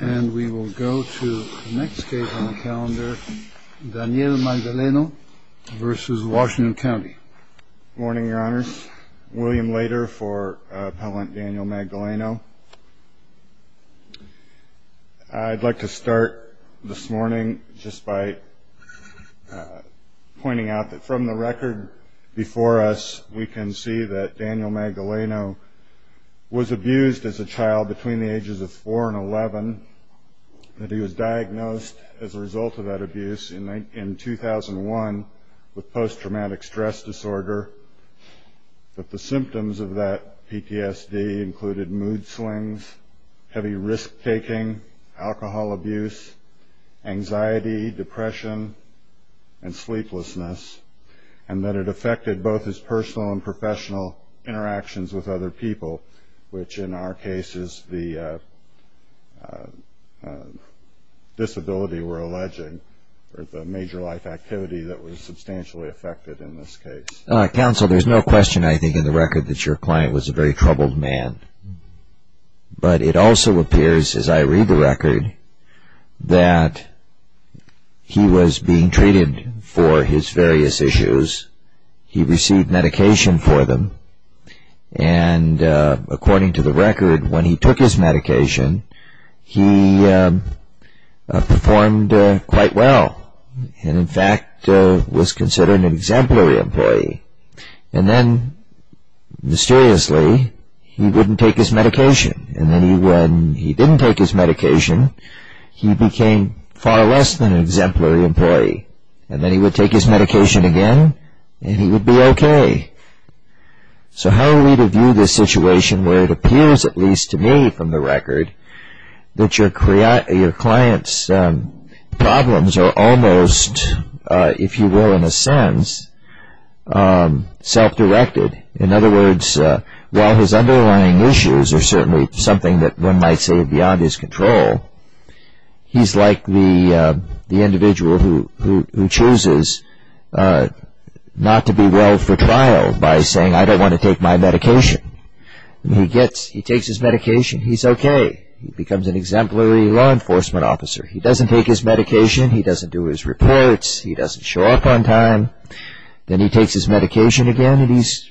And we will go to the next case on the calendar, Daniel Magdaleno v. Washington County. Good morning, Your Honors. William Lader for Appellant Daniel Magdaleno. I'd like to start this morning just by pointing out that from the record before us, we can see that Daniel Magdaleno was abused as a child between the ages of 4 and 11, that he was diagnosed as a result of that abuse in 2001 with post-traumatic stress disorder, that the symptoms of that PTSD included mood swings, heavy risk-taking, alcohol abuse, anxiety, depression, and sleeplessness, and that it affected both his personal and professional interactions with other people, which in our case is the disability we're alleging or the major life activity that was substantially affected in this case. Counsel, there's no question, I think, in the record that your client was a very troubled man. But it also appears, as I read the record, that he was being treated for his various issues. He received medication for them, and according to the record, when he took his medication, he performed quite well and, in fact, was considered an exemplary employee. And then, mysteriously, he wouldn't take his medication. And then when he didn't take his medication, he became far less than an exemplary employee. And then he would take his medication again, and he would be okay. So how are we to view this situation where it appears, at least to me from the record, that your client's problems are almost, if you will, in a sense, self-directed? In other words, while his underlying issues are certainly something that one might say are beyond his control, he's like the individual who chooses not to be well for trial by saying, I don't want to take my medication. And he takes his medication. He's okay. He becomes an exemplary law enforcement officer. He doesn't take his medication. He doesn't do his reports. He doesn't show up on time. Then he takes his medication again, and he's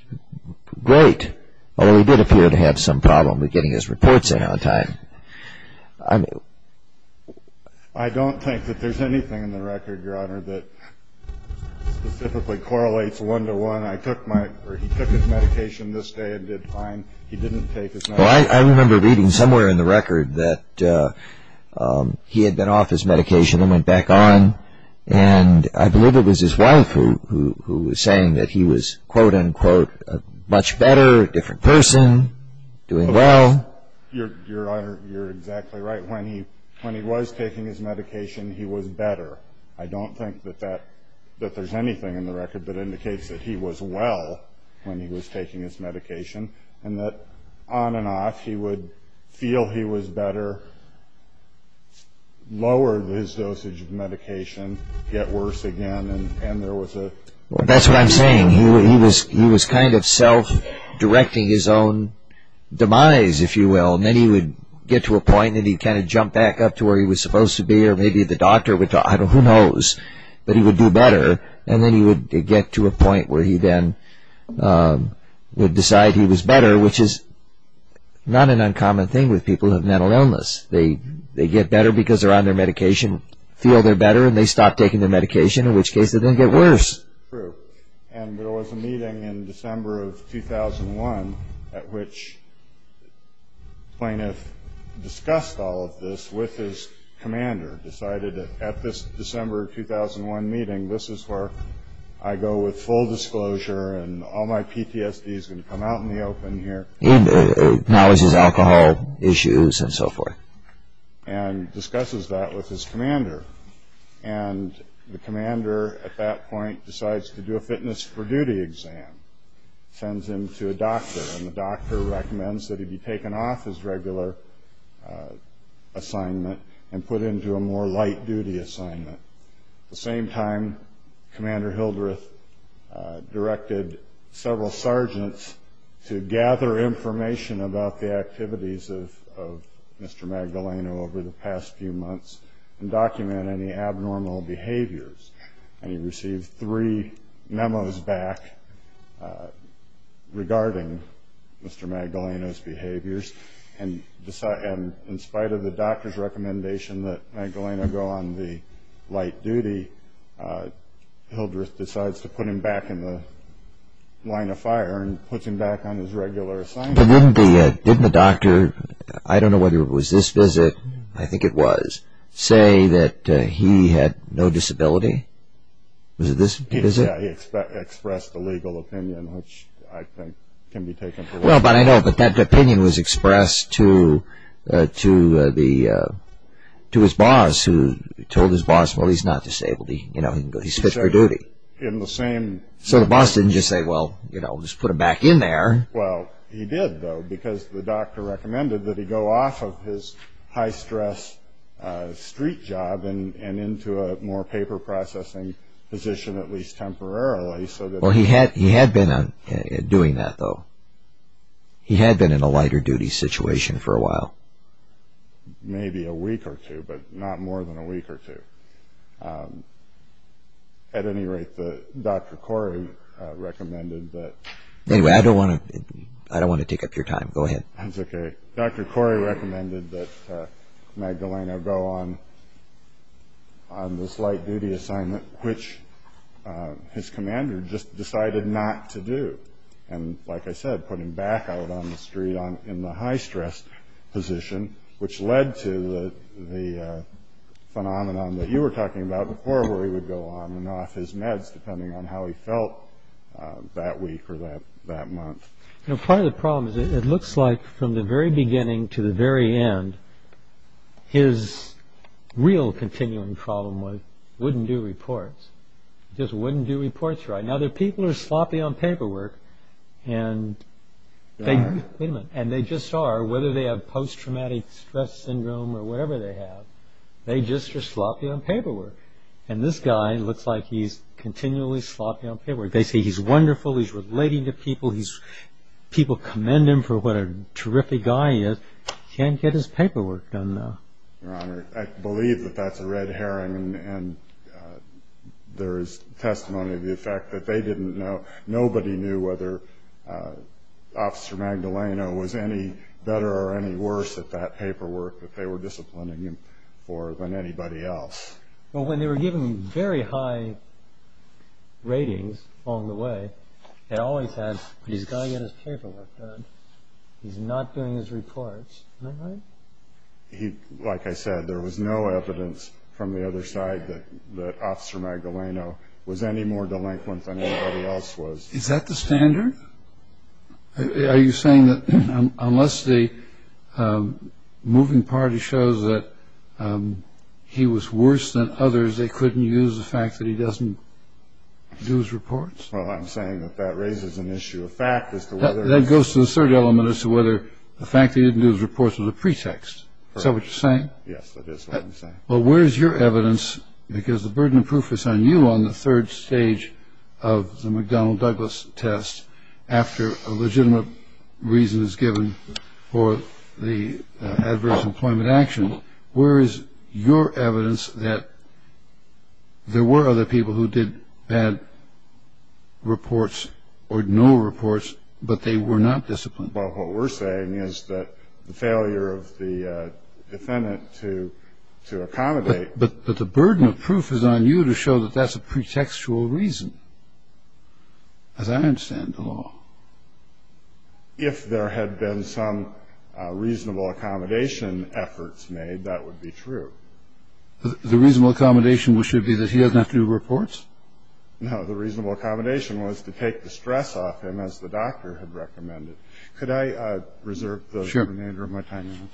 great, although he did appear to have some problem with getting his reports in on time. I don't think that there's anything in the record, Your Honor, that specifically correlates one-to-one. He took his medication this day and did fine. He didn't take his medication. Well, I remember reading somewhere in the record that he had been off his medication and went back on, and I believe it was his wife who was saying that he was, quote, unquote, a much better, different person, doing well. Your Honor, you're exactly right. When he was taking his medication, he was better. I don't think that there's anything in the record that indicates that he was well when he was taking his medication and that on and off he would feel he was better, lower his dosage of medication, get worse again. That's what I'm saying. He was kind of self-directing his own demise, if you will, and then he would get to a point and he'd kind of jump back up to where he was supposed to be or maybe the doctor would talk. I don't know. Who knows? But he would do better, and then he would get to a point where he then would decide he was better, which is not an uncommon thing with people who have mental illness. They get better because they're on their medication, feel they're better, and they stop taking their medication, in which case they then get worse. True. And there was a meeting in December of 2001 at which the plaintiff discussed all of this with his commander, decided that at this December of 2001 meeting, this is where I go with full disclosure and all my PTSD is going to come out in the open here. Now this is alcohol issues and so forth. And discusses that with his commander, and the commander at that point decides to do a fitness for duty exam, sends him to a doctor, and the doctor recommends that he be taken off his regular assignment and put into a more light-duty assignment. At the same time, Commander Hildreth directed several sergeants to gather information about the activities of Mr. Magdaleno over the past few months and document any abnormal behaviors. And he received three memos back regarding Mr. Magdaleno's behaviors. And in spite of the doctor's recommendation that Magdaleno go on the light duty, Hildreth decides to put him back in the line of fire and puts him back on his regular assignment. But didn't the doctor, I don't know whether it was this visit, I think it was, say that he had no disability? Was it this visit? Yeah, he expressed a legal opinion, which I think can be taken for granted. Well, but I know that that opinion was expressed to his boss, who told his boss, well, he's not disabled, he's fit for duty. So the boss didn't just say, well, just put him back in there. Well, he did, though, because the doctor recommended that he go off of his high-stress street job and into a more paper-processing position, at least temporarily. Well, he had been doing that, though. He had been in a lighter-duty situation for a while. Maybe a week or two, but not more than a week or two. At any rate, Dr. Corey recommended that... Anyway, I don't want to take up your time. Go ahead. That's okay. Dr. Corey recommended that Magdaleno go on this light-duty assignment, which his commander just decided not to do, and, like I said, put him back out on the street in the high-stress position, which led to the phenomenon that you were talking about before, where he would go on and off his meds, depending on how he felt that week or that month. Part of the problem is it looks like, from the very beginning to the very end, his real continuing problem was he wouldn't do reports. He just wouldn't do reports right. Now, the people are sloppy on paperwork, and they just are, whether they have post-traumatic stress syndrome or whatever they have, they just are sloppy on paperwork. And this guy looks like he's continually sloppy on paperwork. They say he's wonderful, he's relating to people, people commend him for what a terrific guy he is. He can't get his paperwork done, though. Your Honor, I believe that that's a red herring, and there is testimony of the effect that they didn't know. Nobody knew whether Officer Magdaleno was any better or any worse at that paperwork that they were disciplining him for than anybody else. Well, when they were giving very high ratings along the way, they always had, he's got to get his paperwork done, he's not doing his reports. Am I right? Like I said, there was no evidence from the other side that Officer Magdaleno was any more delinquent than anybody else was. Is that the standard? Are you saying that unless the moving party shows that he was worse than others, they couldn't use the fact that he doesn't do his reports? Well, I'm saying that that raises an issue of fact as to whether or not. That goes to the third element as to whether the fact that he didn't do his reports was a pretext. Is that what you're saying? Yes, that is what I'm saying. Well, where is your evidence, because the burden of proof is on you on the third stage of the McDonnell-Douglas test after a legitimate reason is given for the adverse employment action. Where is your evidence that there were other people who did bad reports or no reports, but they were not disciplined? Well, what we're saying is that the failure of the defendant to accommodate. But the burden of proof is on you to show that that's a pretextual reason, as I understand the law. If there had been some reasonable accommodation efforts made, that would be true. The reasonable accommodation should be that he doesn't have to do reports? No. The reasonable accommodation was to take the stress off him, as the doctor had recommended. Could I reserve the remainder of my time? Sure.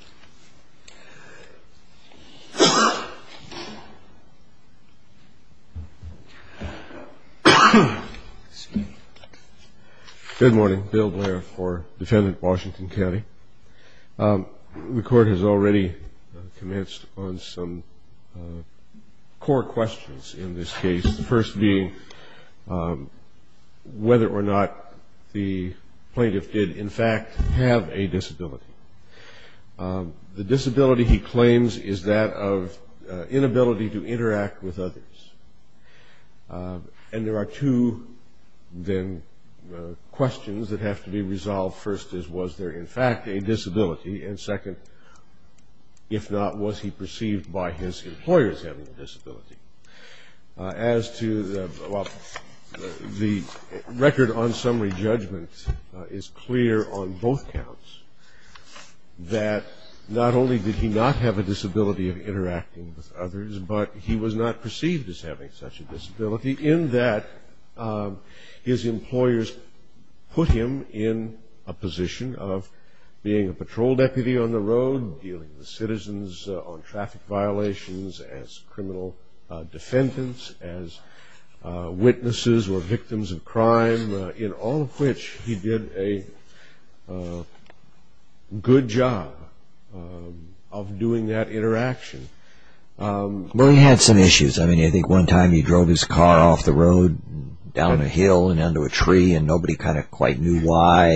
Thank you. Good morning. Bill Blair for Defendant Washington County. The Court has already commenced on some core questions in this case, the first being whether or not the plaintiff did, in fact, have a disability. The disability, he claims, is that of inability to interact with others. And there are two, then, questions that have to be resolved. First is, was there, in fact, a disability? And second, if not, was he perceived by his employers as having a disability? As to the record on summary judgment is clear on both counts, that not only did he not have a disability of interacting with others, but he was not perceived as having such a disability, in that his employers put him in a position of being a patrol deputy on the road, dealing with citizens on traffic violations as criminal defendants, as witnesses or victims of crime, in all of which he did a good job of doing that interaction. Well, he had some issues. I mean, I think one time he drove his car off the road, down a hill and into a tree, and nobody kind of quite knew why.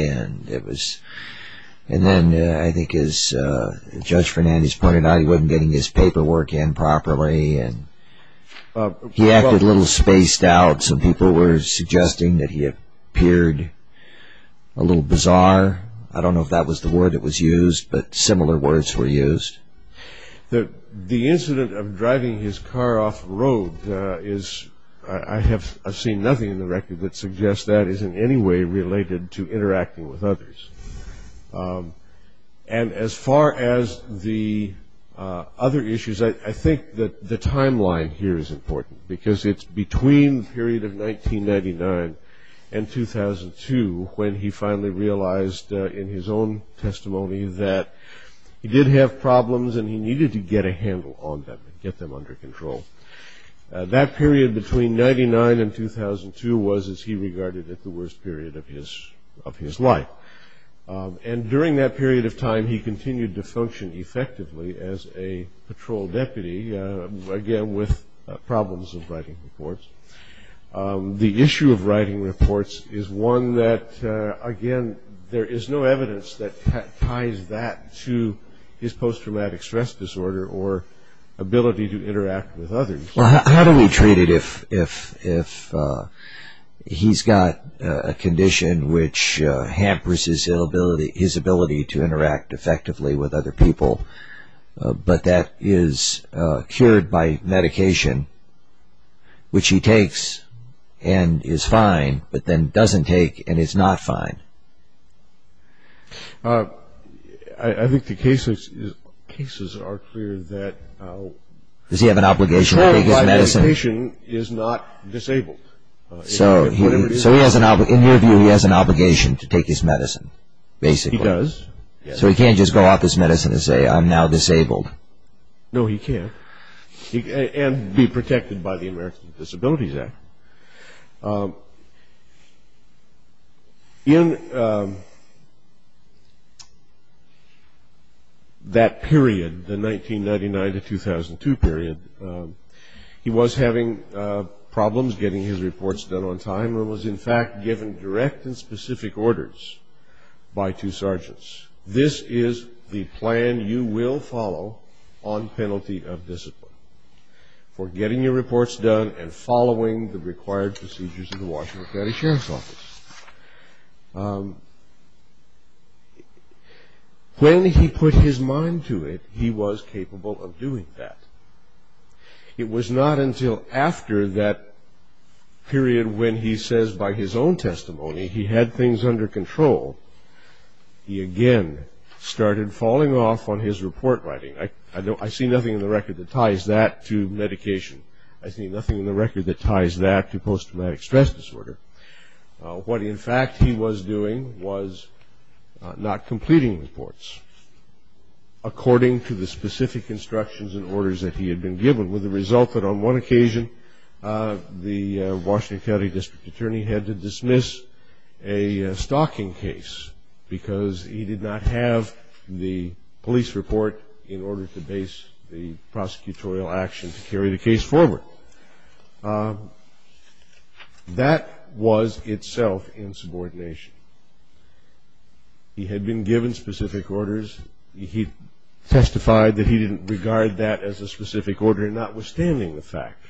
And then, I think as Judge Fernandes pointed out, he wasn't getting his paperwork in properly. He acted a little spaced out. Some people were suggesting that he appeared a little bizarre. I don't know if that was the word that was used, but similar words were used. The incident of driving his car off the road, I have seen nothing in the record that suggests that is in any way related to interacting with others. And as far as the other issues, I think that the timeline here is important, because it's between the period of 1999 and 2002, when he finally realized in his own testimony that he did have problems and he needed to get a handle on them, get them under control. That period between 1999 and 2002 was, as he regarded it, the worst period of his life. And during that period of time, he continued to function effectively as a patrol deputy, again with problems of writing reports. The issue of writing reports is one that, again, there is no evidence that ties that to his post-traumatic stress disorder or ability to interact with others. Well, how do we treat it if he's got a condition which hampers his ability to interact effectively with other people, but that is cured by medication, which he takes and is fine, but then doesn't take and is not fine? I think the cases are clear that... Does he have an obligation to take his medicine? ...cured by medication, is not disabled. So in your view, he has an obligation to take his medicine, basically. He does, yes. So he can't just go off his medicine and say, I'm now disabled. No, he can't, and be protected by the American Disabilities Act. In that period, the 1999 to 2002 period, he was having problems getting his reports done on time and was, in fact, given direct and specific orders by two sergeants. This is the plan you will follow on penalty of discipline for getting your reports done and following the required procedures of the Washington County Sheriff's Office. When he put his mind to it, he was capable of doing that. It was not until after that period when he says by his own testimony he had things under control, he again started falling off on his report writing. I see nothing in the record that ties that to medication. I see nothing in the record that ties that to post-traumatic stress disorder. What, in fact, he was doing was not completing reports according to the specific instructions and orders that he had been given, with the result that on one occasion, the Washington County District Attorney had to dismiss a stalking case because he did not have the police report in order to base the prosecutorial action to carry the case forward. That was itself insubordination. He had been given specific orders. He testified that he didn't regard that as a specific order, notwithstanding the fact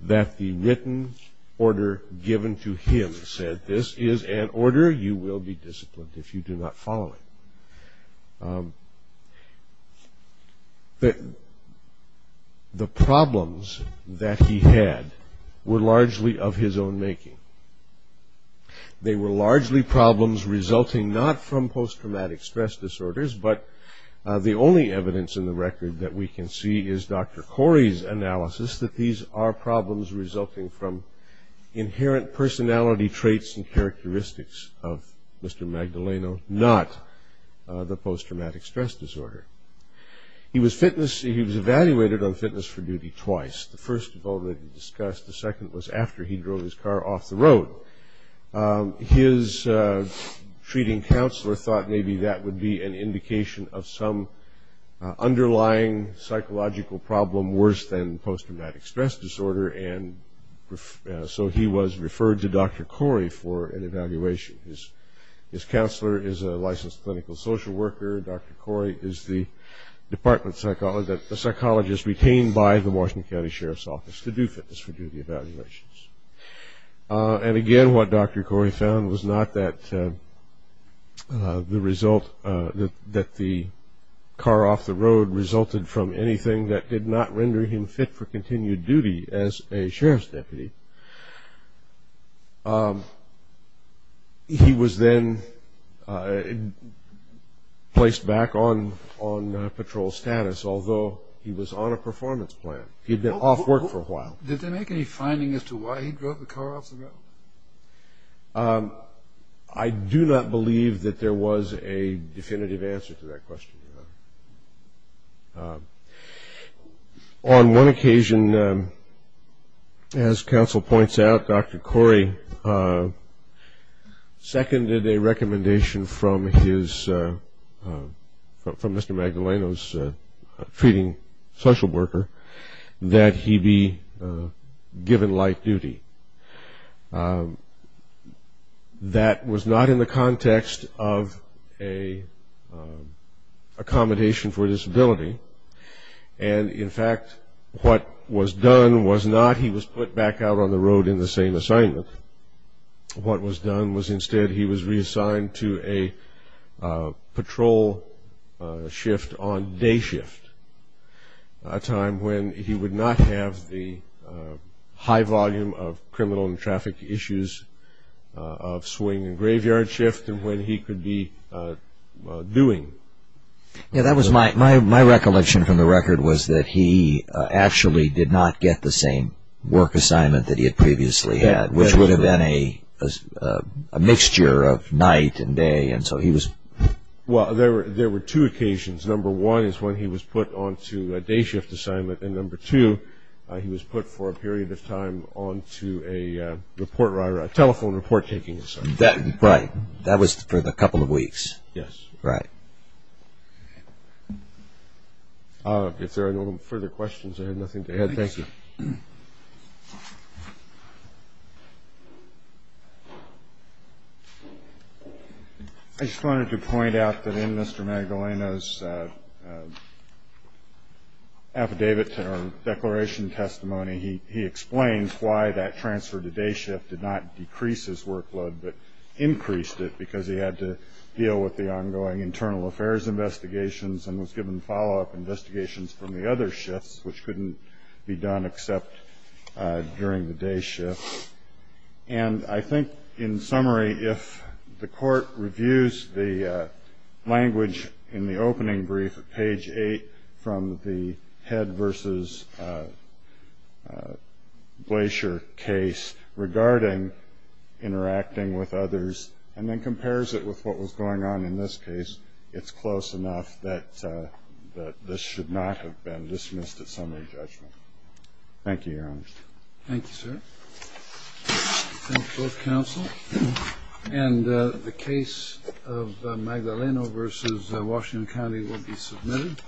that the written order given to him said, that this is an order, you will be disciplined if you do not follow it. The problems that he had were largely of his own making. They were largely problems resulting not from post-traumatic stress disorders, but the only evidence in the record that we can see is Dr. Corey's analysis that these are problems resulting from inherent personality traits and characteristics of Mr. Magdaleno, not the post-traumatic stress disorder. He was evaluated on fitness for duty twice. The first had already been discussed. The second was after he drove his car off the road. His treating counselor thought maybe that would be an indication of some underlying psychological problem worse than post-traumatic stress disorder, and so he was referred to Dr. Corey for an evaluation. His counselor is a licensed clinical social worker. Dr. Corey is the psychologist retained by the Washington County Sheriff's Office to do fitness for duty evaluations. And again, what Dr. Corey found was not that the car off the road resulted from anything that did not render him fit for continued duty as a sheriff's deputy. He was then placed back on patrol status, although he was on a performance plan. He had been off work for a while. Did they make any finding as to why he drove the car off the road? I do not believe that there was a definitive answer to that question, Your Honor. On one occasion, as counsel points out, Dr. Corey seconded a recommendation from Mr. Magdaleno's treating social worker that he be given light duty. That was not in the context of an accommodation for disability, and in fact, what was done was not he was put back out on the road in the same assignment. What was done was instead he was reassigned to a patrol shift on day shift, a time when he would not have the high volume of criminal and traffic issues of swing and graveyard shift and when he could be doing. My recollection from the record was that he actually did not get the same work assignment that he had previously had, which would have been a mixture of night and day. Well, there were two occasions. Number one is when he was put on to a day shift assignment, and number two he was put for a period of time on to a telephone report taking assignment. Right, that was for the couple of weeks. Yes. Right. If there are no further questions, I have nothing to add. Thank you. I just wanted to point out that in Mr. Magdaleno's affidavit or declaration testimony, he explains why that transfer to day shift did not decrease his workload but increased it because he had to deal with the ongoing internal affairs investigations and was given follow-up investigations from the other shifts, which couldn't be done except during the day shift. And I think in summary, if the court reviews the language in the opening brief at page 8 from the Head v. Glacier case regarding interacting with others and then compares it with what was going on in this case, it's close enough that this should not have been dismissed as summary judgment. Thank you, Your Honor. Thank you, sir. Thank you, both counsel. And the case of Magdaleno v. Washington County will be submitted.